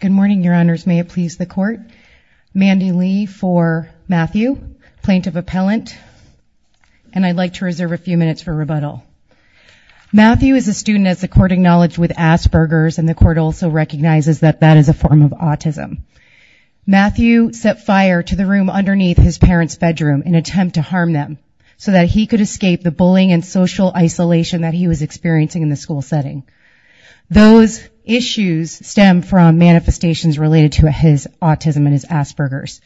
Good morning, Your Honors. May it please the Court. Mandy Lee for Matthew, Plaintiff Appellant, and I'd like to reserve a few minutes for rebuttal. Matthew is a student, as the Court acknowledged, with Asperger's, and the Court also recognizes that that is a form of autism. Matthew set fire to the room underneath his parents' bedroom in an attempt to harm them so that he could escape the bullying and social isolation that he was experiencing in the school setting. Those issues stem from manifestations related to his autism and his Asperger's.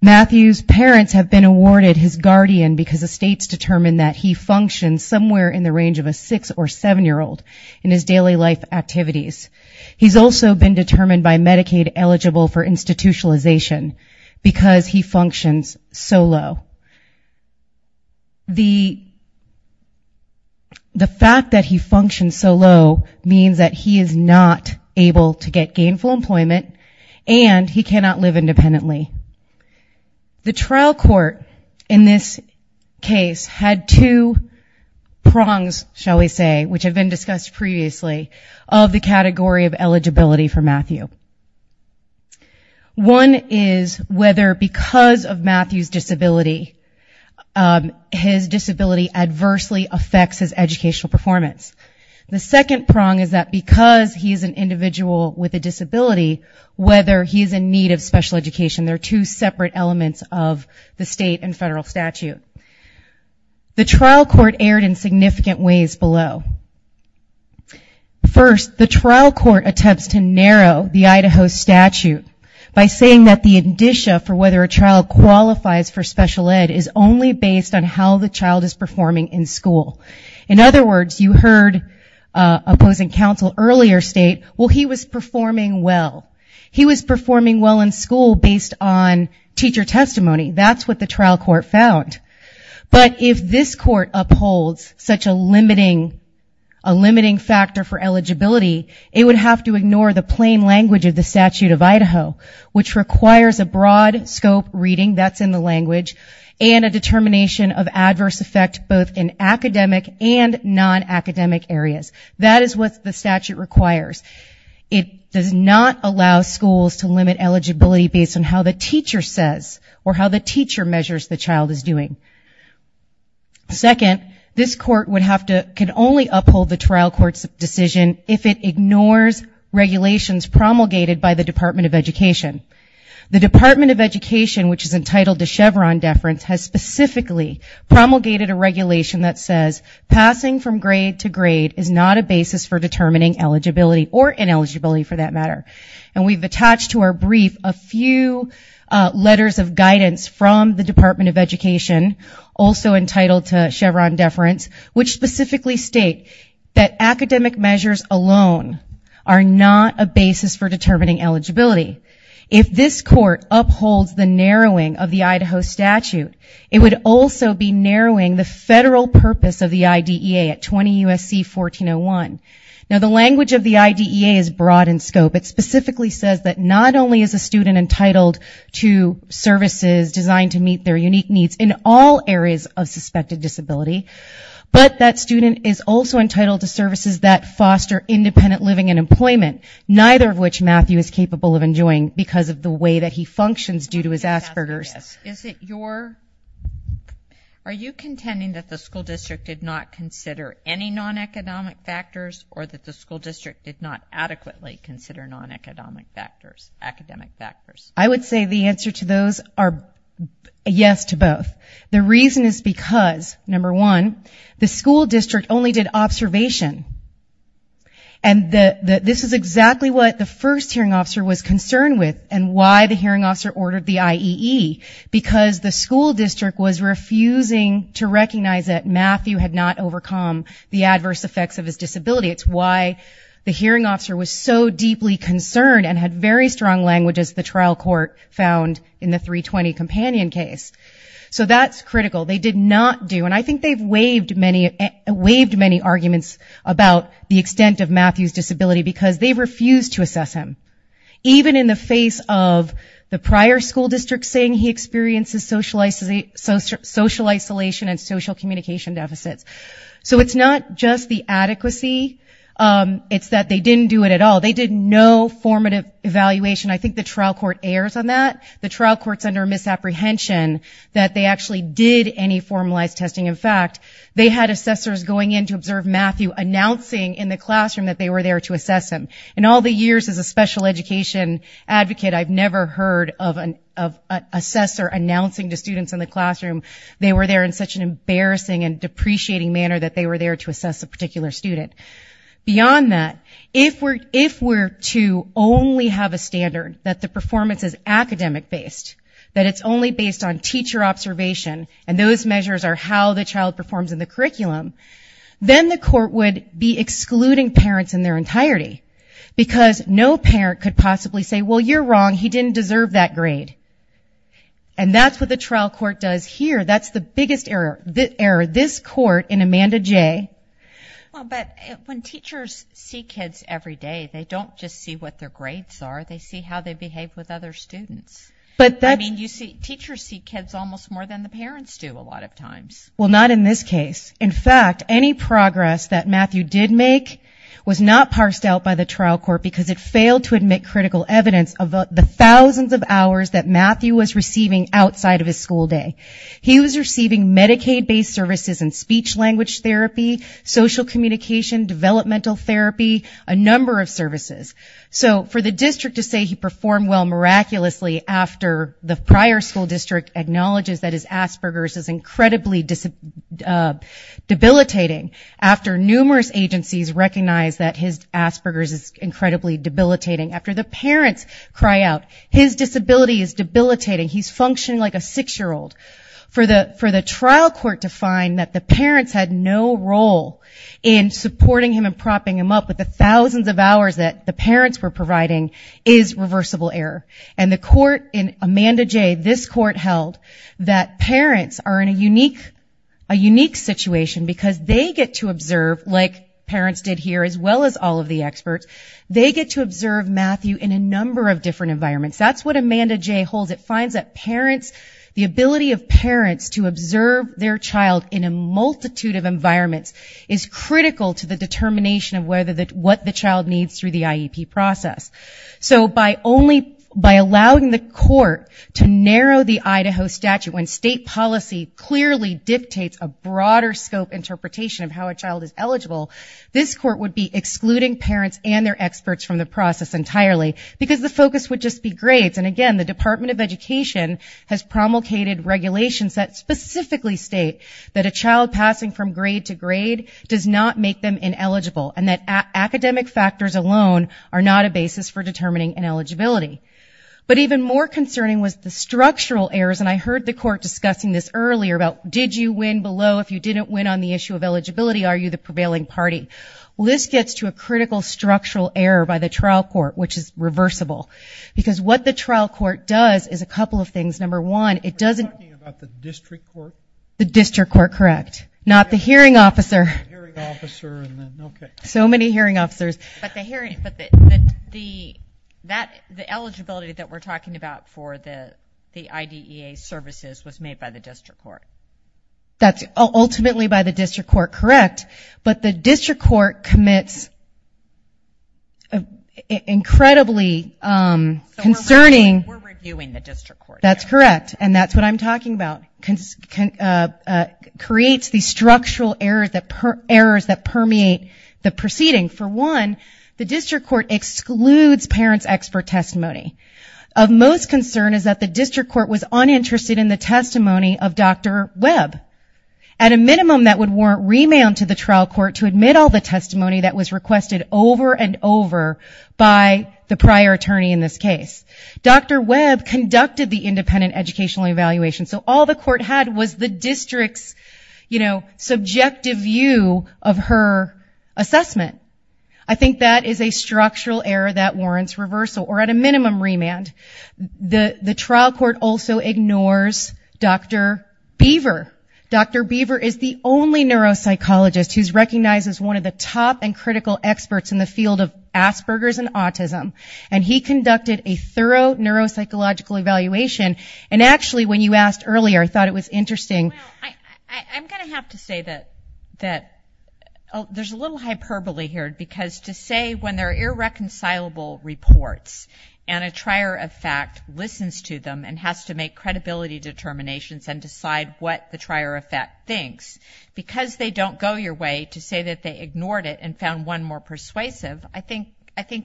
Matthew's parents have been awarded his guardian because the states determined that he functions somewhere in the range of a six- or seven-year-old in his daily life activities. He's also been determined by Medicaid eligible for institutionalization because he functions solo. The fact that he functions solo means that he is not able to get gainful employment and he cannot live independently. The trial court in this case had two prongs, shall we say, which have been discussed previously, of the category of eligibility for Matthew. One is whether because of Matthew's disability, his disability adversely affects his educational performance. The second prong is that because he is an individual with a disability, whether he is in need of special education. There are two separate elements of the state and federal statute. The trial court erred in significant ways below. First, the trial court attempts to narrow the Idaho statute by saying that the indicia for whether a child qualifies for special ed is only based on how the child is performing in school. In other words, you heard opposing counsel earlier state, well, he was performing well. He was performing well in school based on teacher testimony. That's what the trial court found. But if this court upholds such a limiting factor for eligibility, it would have to ignore the plain language of the statute of Idaho, which requires a broad scope reading, that's in the language, and a determination of adverse effect both in academic and nonacademic areas. That is what the statute requires. It does not allow schools to limit eligibility based on how the teacher says or how the teacher measures the child is doing. Second, this court would have to, can only uphold the trial court's decision if it ignores regulations promulgated by the Department of Education. The Department of Education, which is entitled to Chevron deference, has specifically promulgated a regulation that says passing from grade to grade is not a basis for determining eligibility or ineligibility for that matter. And we've attached to our brief a few letters of guidance from the Department of Education, also entitled to Chevron deference, which specifically state that academic measures alone are not a basis for determining eligibility. If this court upholds the narrowing of the Idaho statute, it would also be narrowing the federal purpose of the IDEA at 20 U.S.C. 1401. Now the language of the IDEA is broad in scope. It specifically says that not only is a student entitled to services designed to meet their unique needs in all areas of suspected disability, but that student is also entitled to services that foster independent living and employment, neither of which Matthew is capable of enjoying because of the way that he functions due to his Asperger's. Is it your, are you contending that the school district did not consider any non-economic factors or that the school district did not adequately consider non-economic factors, academic factors? I would say the answer to those are yes to both. The reason is because, number one, the school district only did observation. And this is exactly what the first hearing officer was concerned with and why the hearing officer ordered the IEE, because the school district was refusing to recognize that Matthew had not overcome the adverse effects of his disability. It's why the hearing officer was so deeply concerned and had very strong language as the trial court found in the 320 companion case. So that's critical. They did not do, and I think they've waived many arguments about the extent of Matthew's disability because they refused to assess him, even in the face of the prior school district saying he experiences social isolation and social communication deficits. So it's not just the adequacy, it's that they didn't do it at all. They did no formative evaluation. I think the trial court errs on that. The trial court's under misapprehension that they actually did any formalized testing. In fact, they had assessors going in to observe Matthew announcing in the classroom that they were there to assess him. In all the years as a special education advocate, I've never heard of an assessor announcing to students in the classroom they were there in such an embarrassing and depreciating manner that they were there to assess a particular student. Beyond that, if we're to only have a standard that the performance is academic-based, that it's only based on teacher observation and those measures are how the child performs in the curriculum, then the court would be excluding parents in their entirety because no parent could possibly say, well, you're wrong, he didn't deserve that grade. And that's what the trial court does here. That's the biggest error, this court in Amanda J. Well, but when teachers see kids every day, they don't just see what their grades are, they see how they behave with other students. I mean, teachers see kids almost more than the parents do a lot of times. Well, not in this case. In fact, any progress that Matthew did make was not parsed out by the trial court because it failed to admit critical evidence of the thousands of hours that Matthew was receiving outside of his school day. He was receiving Medicaid-based services and speech-language therapy, social communication, developmental therapy, a number of services. So for the district to say he performed well miraculously after the prior school district acknowledges that his Asperger's is incredibly debilitating, after numerous agencies recognize that his Asperger's is incredibly debilitating, after the parents cry out, his disability is debilitating, he's functioning like a six-year-old, for the trial court to find that the parents had no role in supporting him and propping him up with the thousands of hours that the parents were providing is reversible error. And the court in Amanda J., this court held that parents are in a unique situation because they get to observe, like parents did here as well as all of the experts, they get to observe Matthew in a number of different environments. That's what Amanda J. holds. It finds that parents, the ability of parents to observe their child in a multitude of environments is critical to the determination of whether, what the child needs through the IEP process. So by only, by allowing the court to narrow the Idaho statute when state policy clearly dictates a broader scope interpretation of how a child is eligible, this court would be excluding parents and their experts from the process entirely because the focus would just be grades. And again, the Department of Education has promulgated regulations that specifically state that a child passing from grade to grade does not make them ineligible and that academic factors alone are not a basis for determining ineligibility. But even more concerning was the structural errors, and I heard the court discussing this earlier about did you win below if you didn't win on the issue of eligibility, are you the And that gets to a critical structural error by the trial court, which is reversible. Because what the trial court does is a couple of things. Number one, it doesn't You're talking about the district court? The district court, correct. Not the hearing officer. The hearing officer, and then, okay. So many hearing officers. But the hearing, but the, that, the eligibility that we're talking about for the IDEA services was made by the district court. That's ultimately by the district court, correct. But the district court commits incredibly concerning We're reviewing the district court. That's correct, and that's what I'm talking about. Creates these structural errors that permeate the proceeding. For one, the district court excludes parents' expert testimony. Of most concern is that the district court was uninterested in the testimony of Dr. Webb. At a minimum, that would warrant remand to the trial court to admit all the testimony that was requested over and over by the prior attorney in this case. Dr. Webb conducted the independent educational evaluation. So all the court had was the district's, you know, subjective view of her assessment. I think that is a structural error that warrants reversal, or at a minimum, remand. The trial court also ignores Dr. Beaver. Dr. Beaver is the only neuropsychologist who's recognized as one of the top and critical experts in the field of Asperger's and autism. And he conducted a thorough neuropsychological evaluation. And actually, when you asked earlier, I thought it was interesting. Well, I'm going to have to say that there's a little hyperbole here, because to say when there are irreconcilable reports and a trier of fact listens to them and has to make credibility determinations and decide what the trier of fact thinks, because they don't go your way to say that they ignored it and found one more persuasive, I think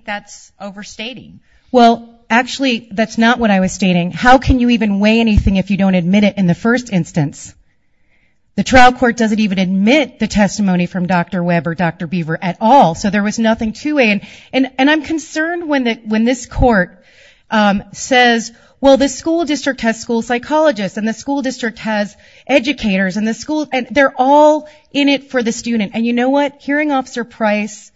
that's overstating. Well, actually, that's not what I was stating. How can you even weigh anything if you don't admit it in the first instance? The trial court doesn't even admit the testimony from Dr. Webb or Dr. Beaver at all. So there was nothing to weigh. And I'm concerned when this court says, well, the school district has school psychologists and the school district has educators and they're all in it for the student. And you know what? Hearing Officer Price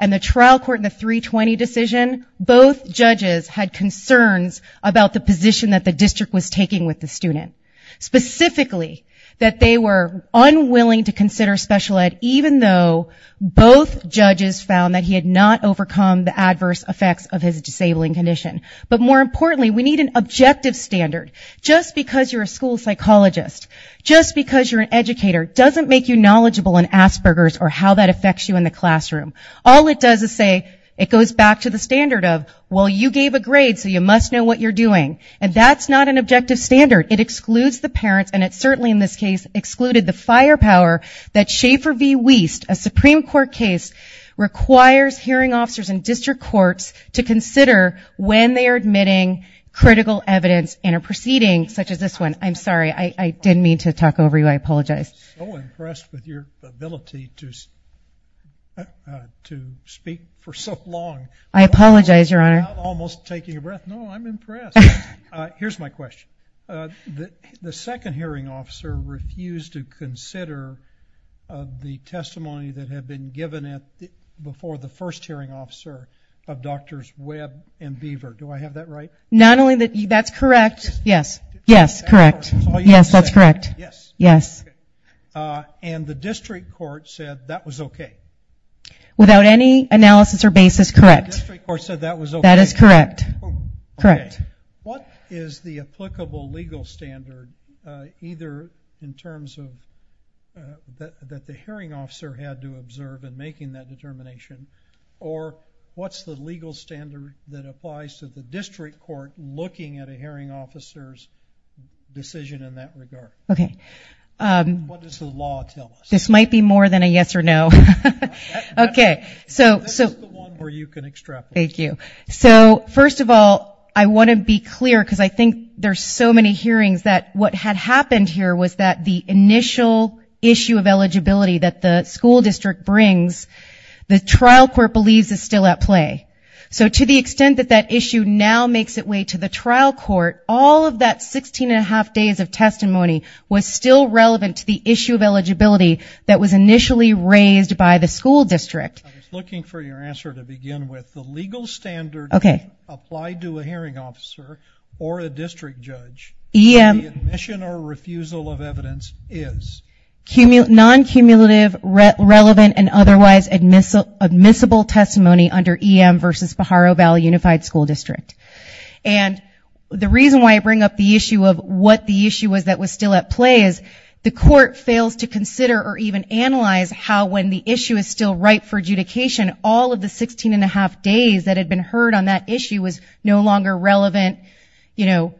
and the trial court in the 320 decision, both judges had concerns about the position that the district was taking with the student, specifically that they were found that he had not overcome the adverse effects of his disabling condition. But more importantly, we need an objective standard. Just because you're a school psychologist, just because you're an educator, doesn't make you knowledgeable in Asperger's or how that affects you in the classroom. All it does is say, it goes back to the standard of, well, you gave a grade, so you must know what you're doing. And that's not an objective standard. It excludes the parents, and it certainly in this case excluded the firepower that Schaefer v. Wiest, a Supreme Court case, requires hearing officers and district courts to consider when they are admitting critical evidence in a proceeding such as this one. I'm sorry. I didn't mean to talk over you. I apologize. I'm so impressed with your ability to speak for so long. I apologize, Your Honor. I'm almost taking a breath. No, I'm impressed. Here's my question. The second hearing officer refused to consider the testimony that had been given before the first hearing officer of Drs. Webb and Beaver. Do I have that right? Not only that, that's correct. Yes. Yes, correct. Yes, that's correct. Yes. Yes. And the district court said that was okay. Without any analysis or basis, correct. The district court said that was okay. That is correct. Correct. What is the applicable legal standard, either in terms of that the hearing officer had to observe in making that determination, or what's the legal standard that applies to the district court looking at a hearing officer's decision in that regard? Okay. What does the law tell us? This might be more than a yes or no. Okay. This is the one where you can extrapolate. Thank you. So, first of all, I want to be clear, because I think there's so many hearings that what had happened here was that the initial issue of eligibility that the school district brings, the trial court believes is still at play. So to the extent that that issue now makes its way to the trial court, all of that 16 and a half days of testimony was still relevant to the issue of eligibility that was initially raised by the school district. I was looking for your answer to begin with. The legal standard applied to a hearing officer or a district judge, the admission or refusal of evidence is? Non-cumulative, relevant, and otherwise admissible testimony under EM versus Pajaro Valley Unified School District. And the reason why I bring up the issue of what the issue was that was still at play is the court fails to consider or even analyze how, when the issue is still ripe for adjudication, all of the 16 and a half days that had been heard on that issue was no longer relevant, you know,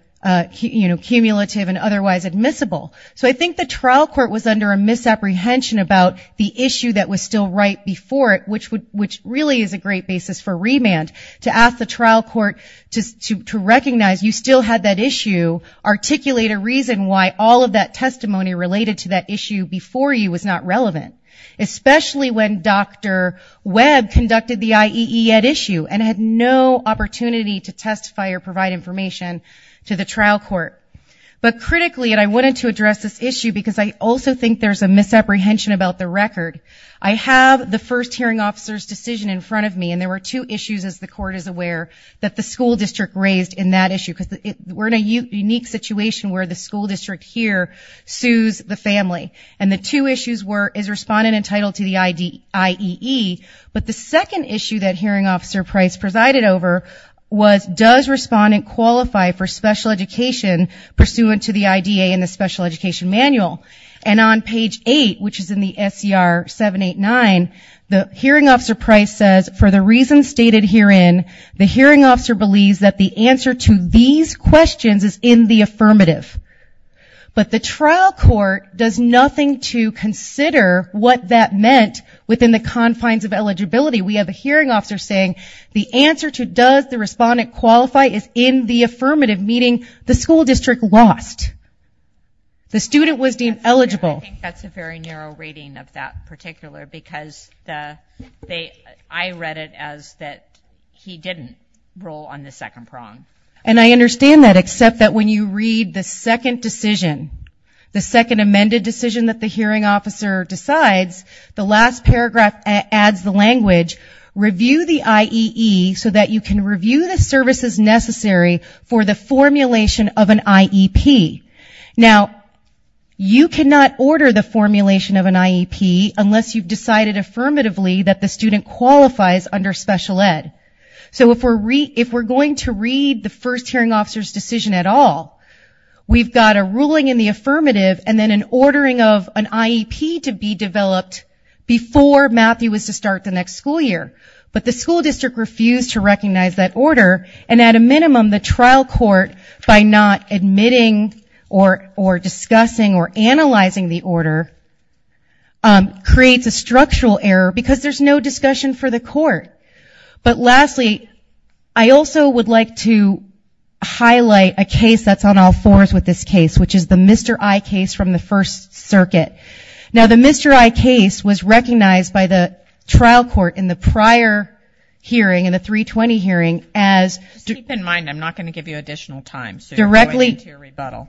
cumulative and otherwise admissible. So I think the trial court was under a misapprehension about the issue that was still right before it, which really is a great basis for remand, to ask the trial court to recognize you still had that issue, articulate a reason why all of that testimony related to that issue before you was not relevant, especially when Dr. Webb conducted the IEE at issue and had no opportunity to testify or provide information to the trial court. But critically, and I wanted to address this issue because I also think there's a misapprehension about the record, I have the first hearing officer's decision in front of me and there were two issues, as the court is aware, that the school district raised in that issue. Because we're in a unique situation where the school district here sues the family. And the two issues were, is respondent entitled to the IEE? But the second issue that hearing officer Price presided over was, does respondent qualify for special education pursuant to the IDA and the special education manual? And on page 8, which is in the SCR 789, the hearing officer Price says, for the reasons stated herein, the hearing officer believes that the answer to these questions is in the affirmative. But the trial court does nothing to consider what that meant within the confines of eligibility. We have a hearing officer saying, the answer to does the respondent qualify is in the affirmative, meaning the school district lost. The student was deemed eligible. I think that's a very narrow rating of that particular, because I read it as that he didn't roll on the second prong. And I understand that, except that when you read the second decision, the second amended decision that the hearing officer decides, the last paragraph adds the language, review the IEE so that you can review the services necessary for the formulation of an IEP. Now you cannot order the formulation of an IEP unless you've decided affirmatively that the student qualifies under special ed. So if we're going to read the first hearing officer's decision at all, we've got a ruling in the affirmative and then an ordering of an IEP to be developed before Matthew is to start the next school year. But the school district refused to recognize that order, and at a minimum, the trial court, by not admitting or discussing or analyzing the order, creates a structural error because there's no discussion for the court. But lastly, I also would like to highlight a case that's on all fours with this case, which is the Mr. I case from the First Circuit. Now the Mr. I case was recognized by the trial court in the prior hearing, in the 320 hearing, as... Just keep in mind, I'm not going to give you additional time, so you're going into a rebuttal.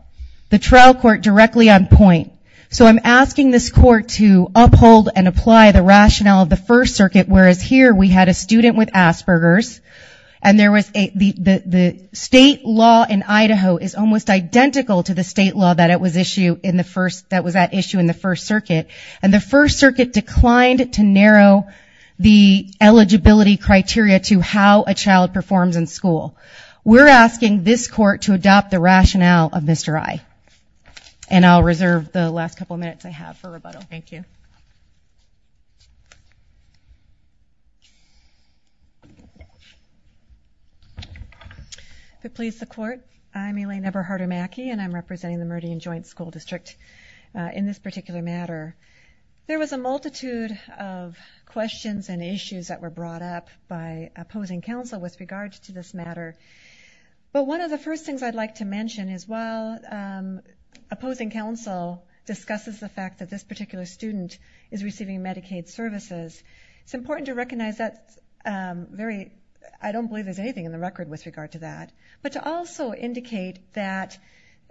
The trial court directly on point. So I'm asking this court to uphold and apply the rationale of the First Circuit, whereas here we had a student with Asperger's, and the state law in Idaho is almost identical to the state law that was at issue in the First Circuit. And the First Circuit declined to narrow the eligibility criteria to how a child performs in school. We're asking this court to adopt the rationale of Mr. I. And I'll reserve the last couple of minutes I have for rebuttal. Thank you. If it pleases the court, I'm Elaine Eberharder Mackey, and I'm representing the Meridian Joint School District in this particular matter. There was a multitude of questions and issues that were brought up by opposing counsel with regard to this matter. But one of the first things I'd like to mention is while opposing counsel discusses the fact that this particular student is receiving Medicaid services, it's important to recognize that's very, I don't believe there's anything in the record with regard to that, but to also indicate that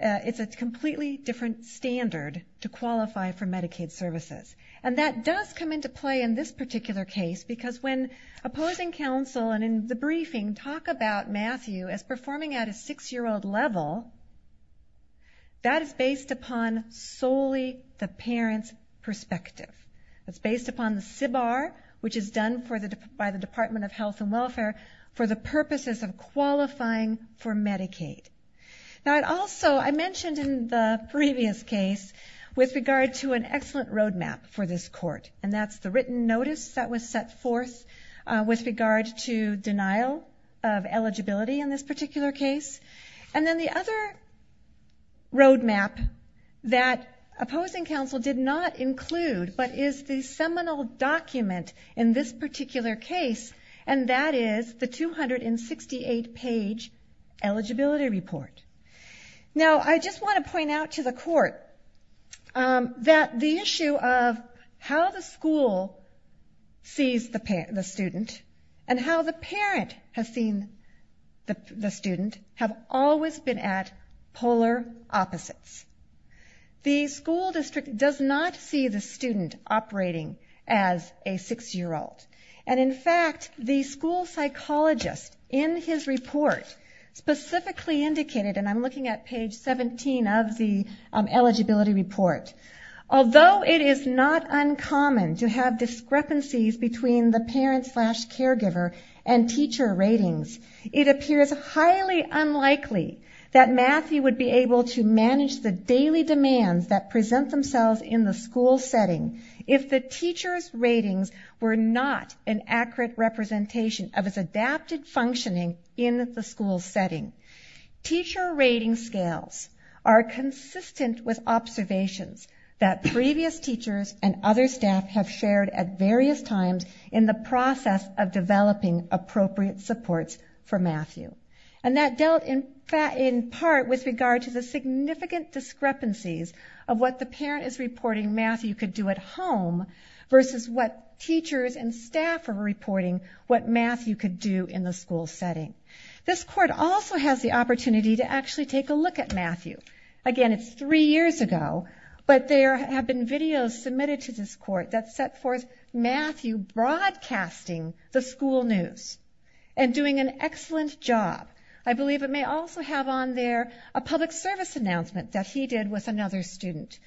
it's a completely different standard to qualify for Medicaid services. And that does come into play in this particular case, because when opposing counsel and in the briefing talk about Matthew as performing at a six-year-old level, that is based upon solely the parent's perspective. It's based upon the SBAR, which is done by the Department of Health and Welfare, for the purposes of qualifying for Medicaid. Now, also I mentioned in the previous case with regard to an excellent roadmap for this court, and that's the written notice that was set forth with regard to denial of eligibility in this particular case. And then the other roadmap that opposing counsel did not include, but is the seminal document in this particular case, and that is the 268-page eligibility report. Now, I just want to point out to the court that the issue of how the school sees the student have always been at polar opposites. The school district does not see the student operating as a six-year-old. And in fact, the school psychologist in his report specifically indicated, and I'm looking at page 17 of the eligibility report, although it is not uncommon to have discrepancies between the parent-slash-caregiver and teacher ratings, it appears highly unlikely that Matthew would be able to manage the daily demands that present themselves in the school setting if the teacher's ratings were not an accurate representation of his adapted functioning in the school setting. Teacher rating scales are consistent with observations that previous teachers and other times in the process of developing appropriate supports for Matthew. And that dealt in part with regard to the significant discrepancies of what the parent is reporting Matthew could do at home versus what teachers and staff are reporting what Matthew could do in the school setting. This court also has the opportunity to actually take a look at Matthew. Again, it's three years ago, but there have been videos submitted to this court that set forth Matthew broadcasting the school news and doing an excellent job. I believe it may also have on there a public service announcement that he did with another student.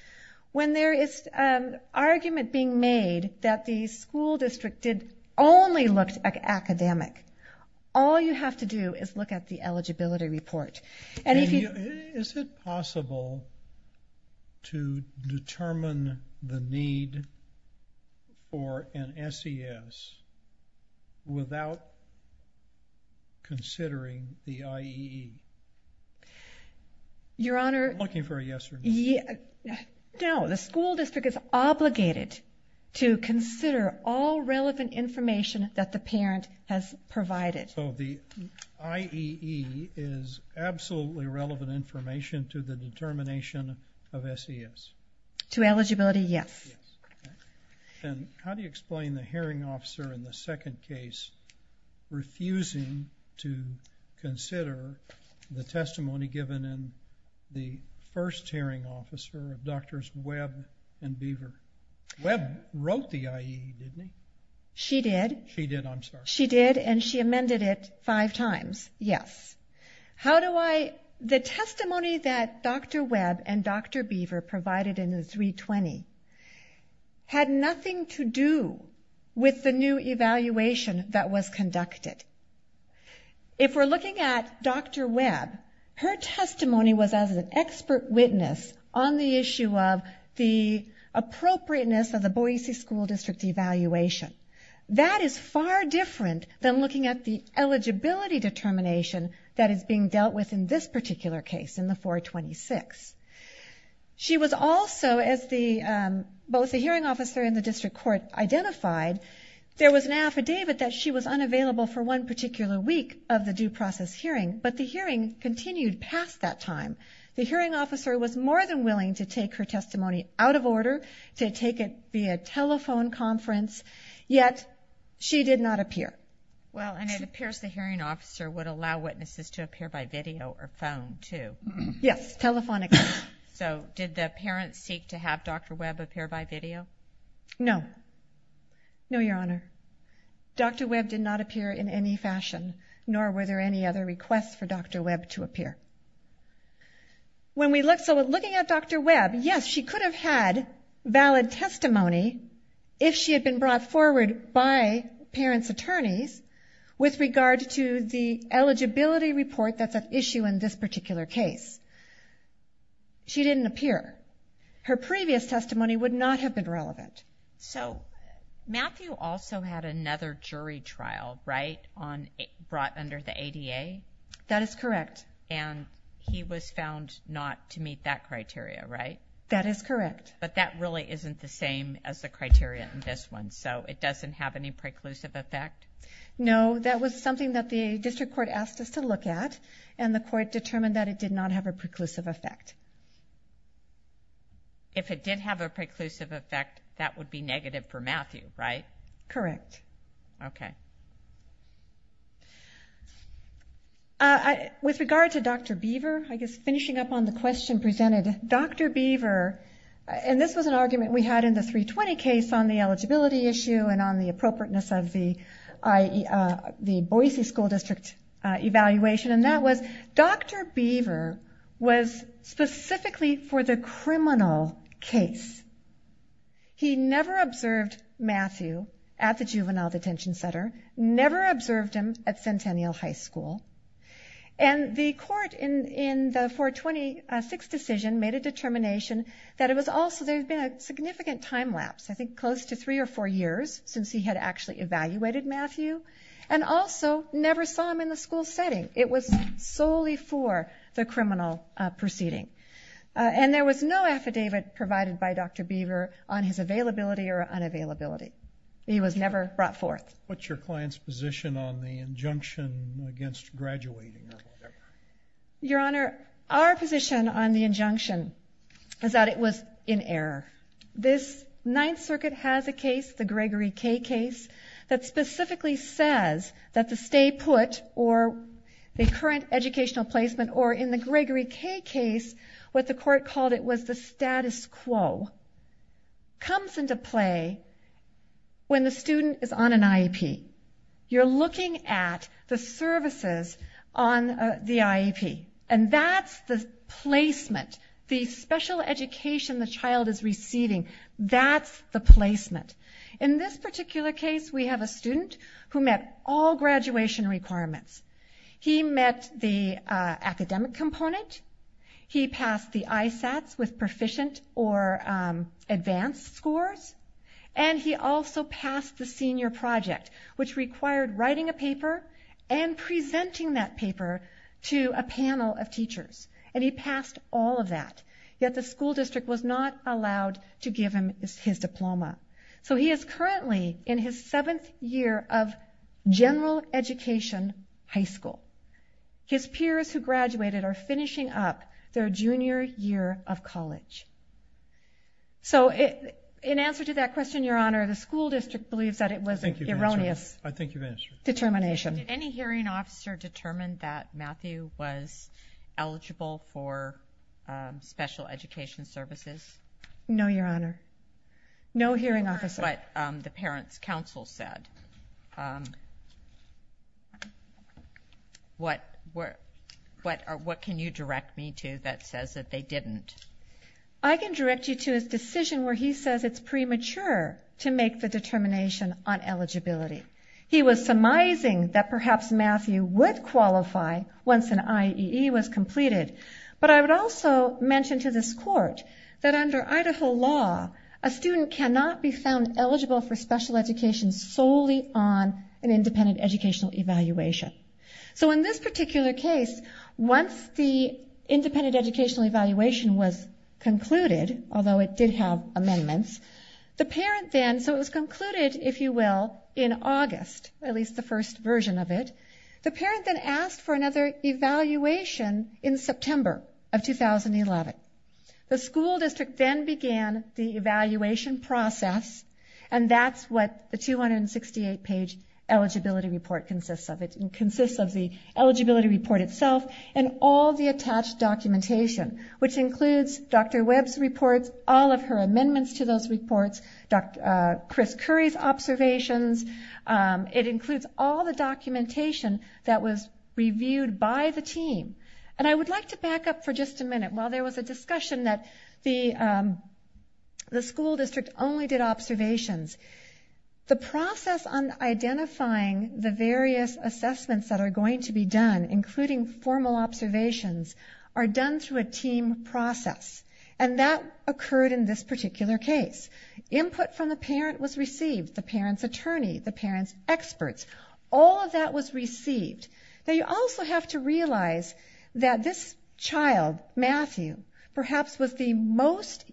When there is an argument being made that the school district did only look academic, all you have to do is look at the eligibility report. Is it possible to determine the need for an SES without considering the IEE? Your Honor, the school district is obligated to consider all relevant information that the parent has provided. So the IEE is absolutely relevant information to the determination of SES? To eligibility, yes. And how do you explain the hearing officer in the second case refusing to consider the testimony given in the first hearing officer, Drs. Webb and Beaver? Webb wrote the IEE, didn't he? She did. She did, I'm sorry. She did, and she amended it five times, yes. How do I... The testimony that Dr. Webb and Dr. Beaver provided in the 320 had nothing to do with the new evaluation that was conducted. If we're looking at Dr. Webb, her testimony was as an expert witness on the issue of the appropriateness of the Boise School District evaluation. That is far different than looking at the eligibility determination that is being dealt with in this particular case, in the 426. She was also, as both the hearing officer and the district court identified, there was an affidavit that she was unavailable for one particular week of the due process hearing, but the hearing continued past that time. The hearing officer was more than willing to take her testimony out of order, to take it via telephone conference, yet she did not appear. Well, and it appears the hearing officer would allow witnesses to appear by video or phone, too. Yes, telephonically. So, did the parents seek to have Dr. Webb appear by video? No. No, Your Honor. Dr. Webb did not appear in any fashion, nor were there any other requests for Dr. Webb to appear. So, looking at Dr. Webb, yes, she could have had valid testimony if she had been brought forward by parents' attorneys with regard to the eligibility report that's at issue in this particular case. She didn't appear. Her previous testimony would not have been relevant. So, Matthew also had another jury trial, right, brought under the ADA? That is correct. And he was found not to meet that criteria, right? That is correct. But that really isn't the same as the criteria in this one, so it doesn't have any preclusive effect? No. That was something that the district court asked us to look at, and the court determined that it did not have a preclusive effect. If it did have a preclusive effect, that would be negative for Matthew, right? Correct. Okay. With regard to Dr. Beaver, I guess finishing up on the question presented, Dr. Beaver, and this was an argument we had in the 320 case on the eligibility issue and on the appropriateness of the Boise School District evaluation, and that was, Dr. Beaver was specifically for the criminal case. He never observed Matthew at the juvenile detention center, never observed him at Centennial High School, and the court in the 426 decision made a determination that it was also, there had been a significant time lapse, I think close to three or four years since he had actually evaluated Matthew, and also never saw him in the school setting. It was solely for the criminal proceeding. And there was no affidavit provided by Dr. Beaver on his availability or unavailability. He was never brought forth. What's your client's position on the injunction against graduating? Your Honor, our position on the injunction is that it was in error. This Ninth Circuit has a case, the Gregory K case, that specifically says that the stay educational placement, or in the Gregory K case, what the court called it was the status quo, comes into play when the student is on an IEP. You're looking at the services on the IEP, and that's the placement, the special education the child is receiving, that's the placement. In this particular case, we have a student who met all graduation requirements. He met the academic component. He passed the ISATS with proficient or advanced scores. And he also passed the senior project, which required writing a paper and presenting that paper to a panel of teachers. And he passed all of that, yet the school district was not allowed to give him his diploma. So he is currently in his seventh year of general education high school. His peers who graduated are finishing up their junior year of college. So in answer to that question, Your Honor, the school district believes that it was an erroneous determination. I think you've answered it. I think you've answered it. Did any hearing officer determine that Matthew was eligible for special education services? No, Your Honor. No hearing officer. But what the parents' counsel said, what can you direct me to that says that they didn't? I can direct you to his decision where he says it's premature to make the determination on eligibility. He was surmising that perhaps Matthew would qualify once an IEE was completed. But I would also mention to this Court that under Idaho law, a student cannot be found eligible for special education solely on an independent educational evaluation. So in this particular case, once the independent educational evaluation was concluded, although it did have amendments, the parent then, so it was concluded, if you will, in August, at least the first version of it. The parent then asked for another evaluation in September of 2011. The school district then began the evaluation process, and that's what the 268-page eligibility report consists of. It consists of the eligibility report itself and all the attached documentation, which includes Dr. Webb's reports, all of her amendments to those reports, Chris Curry's observations. It includes all the documentation that was reviewed by the team. And I would like to back up for just a minute. While there was a discussion that the school district only did observations, the process on identifying the various assessments that are going to be done, including formal observations, are done through a team process. And that occurred in this particular case. Input from the parent was received, the parent's attorney, the parent's experts. All of that was received. Now, you also have to realize that this child, Matthew, perhaps was the most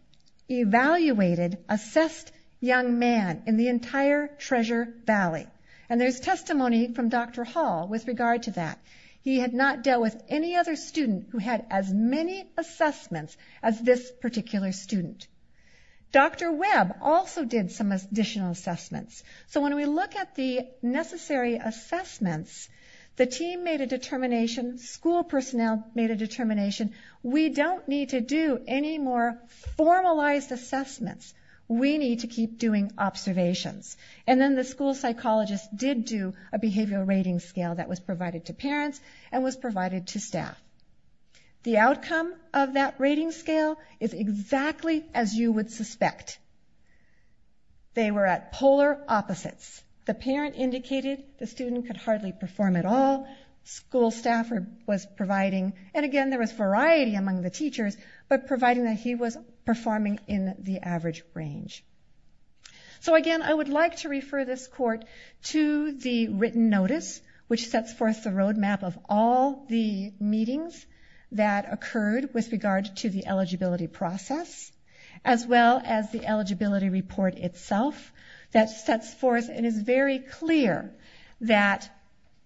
evaluated, assessed young man in the entire Treasure Valley. And there's testimony from Dr. Hall with regard to that. He had not dealt with any other student who had as many assessments as this particular student. Dr. Webb also did some additional assessments. So when we look at the necessary assessments, the team made a determination, school personnel made a determination, we don't need to do any more formalized assessments. We need to keep doing observations. And then the school psychologist did do a behavioral rating scale that was provided to parents and was provided to staff. The outcome of that rating scale is exactly as you would suspect. They were at polar opposites. The parent indicated the student could hardly perform at all. School staff was providing, and again, there was variety among the teachers, but providing that he was performing in the average range. So again, I would like to refer this court to the written notice, which sets forth the that occurred with regard to the eligibility process, as well as the eligibility report itself, that sets forth and is very clear that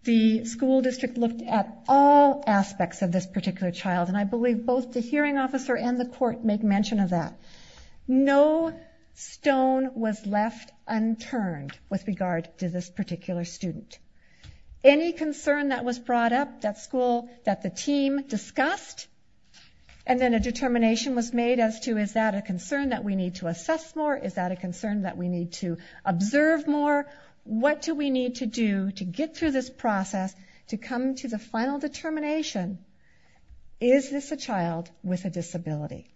the school district looked at all aspects of this particular child, and I believe both the hearing officer and the court make mention of that. No stone was left unturned with regard to this particular student. Any concern that was brought up at school that the team discussed, and then a determination was made as to, is that a concern that we need to assess more? Is that a concern that we need to observe more? What do we need to do to get through this process to come to the final determination? Is this a child with a disability?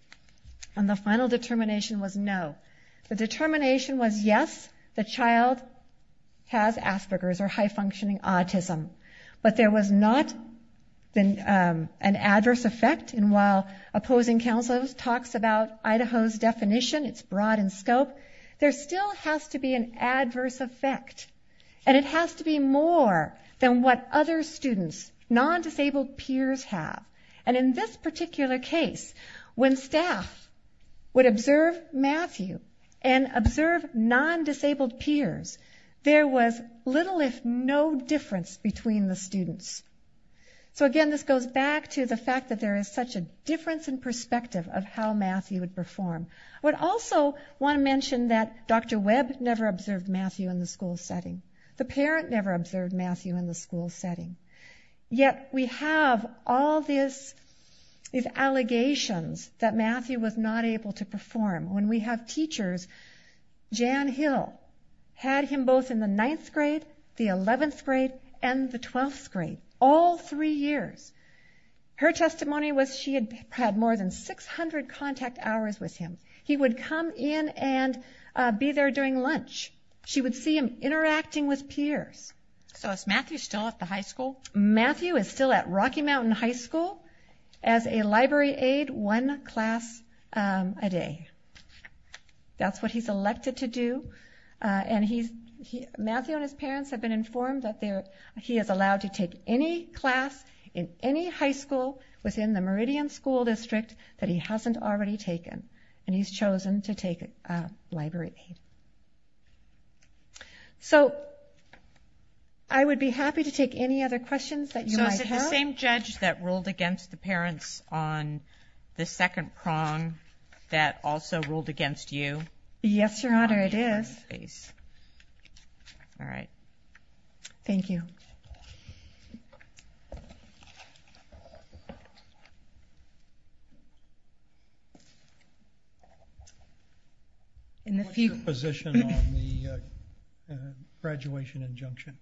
And the final determination was no. The determination was, yes, the child has Asperger's, or high-functioning autism. But there was not an adverse effect, and while opposing counsel talks about Idaho's definition, it's broad in scope, there still has to be an adverse effect. And it has to be more than what other students, non-disabled peers have. And in this particular case, when staff would observe Matthew and observe non-disabled peers, there was little if no difference between the students. So again, this goes back to the fact that there is such a difference in perspective of how Matthew would perform. I would also want to mention that Dr. Webb never observed Matthew in the school setting. The parent never observed Matthew in the school setting. Yet we have all these allegations that Matthew was not able to perform. When we have teachers, Jan Hill had him both in the ninth grade, the 11th grade, and the 12th grade, all three years. Her testimony was she had had more than 600 contact hours with him. He would come in and be there during lunch. She would see him interacting with peers. So is Matthew still at the high school? Matthew is still at Rocky Mountain High School as a library aid, one class a day. That's what he's elected to do. And Matthew and his parents have been informed that he is allowed to take any class in any high school within the Meridian School District that he hasn't already taken. And he's chosen to take library aid. So I would be happy to take any other questions that you might have. So is it the same judge that ruled against the parents on the second prong that also ruled against you? Yes, Your Honor, it is. All right. Thank you. What's your position on the graduation injunction?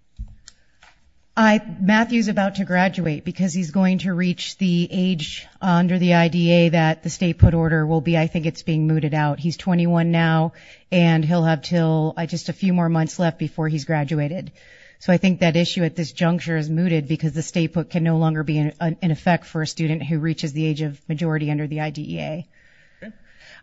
Matthew's about to graduate because he's going to reach the age under the IDA that the state put order will be. I think it's being mooted out. He's 21 now. And he'll have just a few more months left before he's graduated. So I think that issue at this juncture is mooted because the state book can no longer be in effect for a student who reaches the age of majority under the IDEA.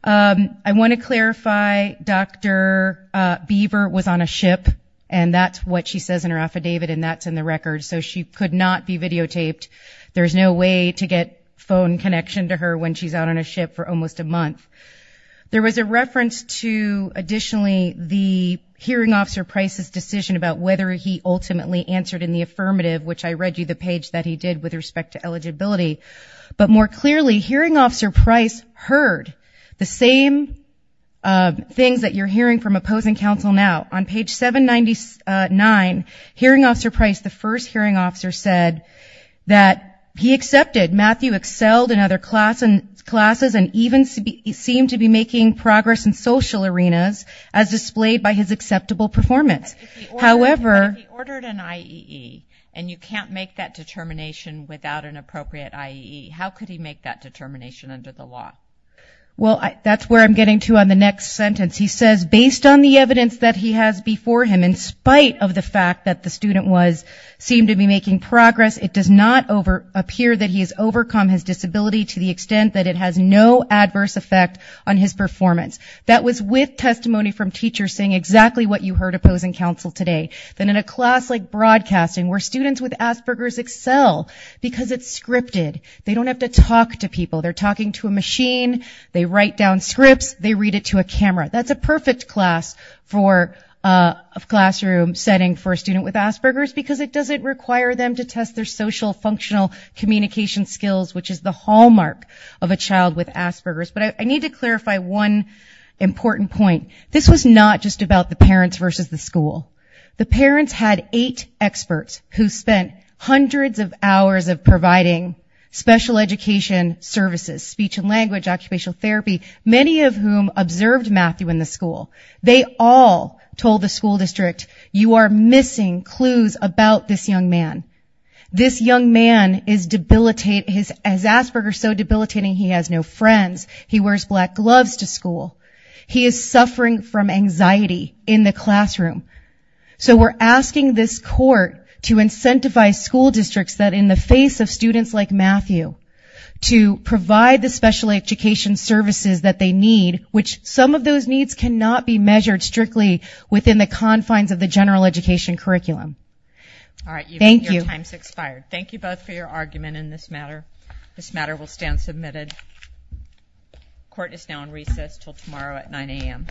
I want to clarify Dr. Beaver was on a ship. And that's what she says in her affidavit. And that's in the record. So she could not be videotaped. There's no way to get phone connection to her when she's out on a ship for almost a month. There was a reference to additionally the hearing officer Price's decision about whether he ultimately answered in the affirmative, which I read you the page that he did with respect to eligibility. But more clearly, hearing officer Price heard the same things that you're hearing from opposing counsel now. On page 799, hearing officer Price, the first hearing officer, said that he accepted. Matthew excelled in other classes and even seemed to be making progress in social arenas as displayed by his acceptable performance. However. He ordered an IEE. And you can't make that determination without an appropriate IEE. How could he make that determination under the law? Well, that's where I'm getting to on the next sentence. He says, based on the evidence that he has before him, in spite of the fact that the student seemed to be making progress, it does not appear that he has overcome his disability to the extent that it has no adverse effect on his performance. That was with testimony from teachers saying exactly what you heard opposing counsel today. Then in a class like broadcasting, where students with Asperger's excel because it's scripted. They don't have to talk to people. They're talking to a machine. They write down scripts. They read it to a camera. That's a perfect class for a classroom setting for a student with Asperger's because it doesn't require them to test their social functional communication skills, which is the hallmark of a child with Asperger's. But I need to clarify one important point. This was not just about the parents versus the school. The parents had eight experts who spent hundreds of hours of providing special education services, speech and language, occupational therapy, many of whom observed Matthew in the school. They all told the school district, you are missing clues about this young man. This young man is debilitating. As Asperger's so debilitating, he has no friends. He wears black gloves to school. He is suffering from anxiety in the classroom. So we're asking this court to incentivize school districts that in the face of students like Matthew to provide the special education services that they need, which some of those needs cannot be measured strictly within the confines of the general education curriculum. All right, your time has expired. Thank you both for your argument in this matter. This matter will stand submitted. Court is now on recess until tomorrow at 9 a.m.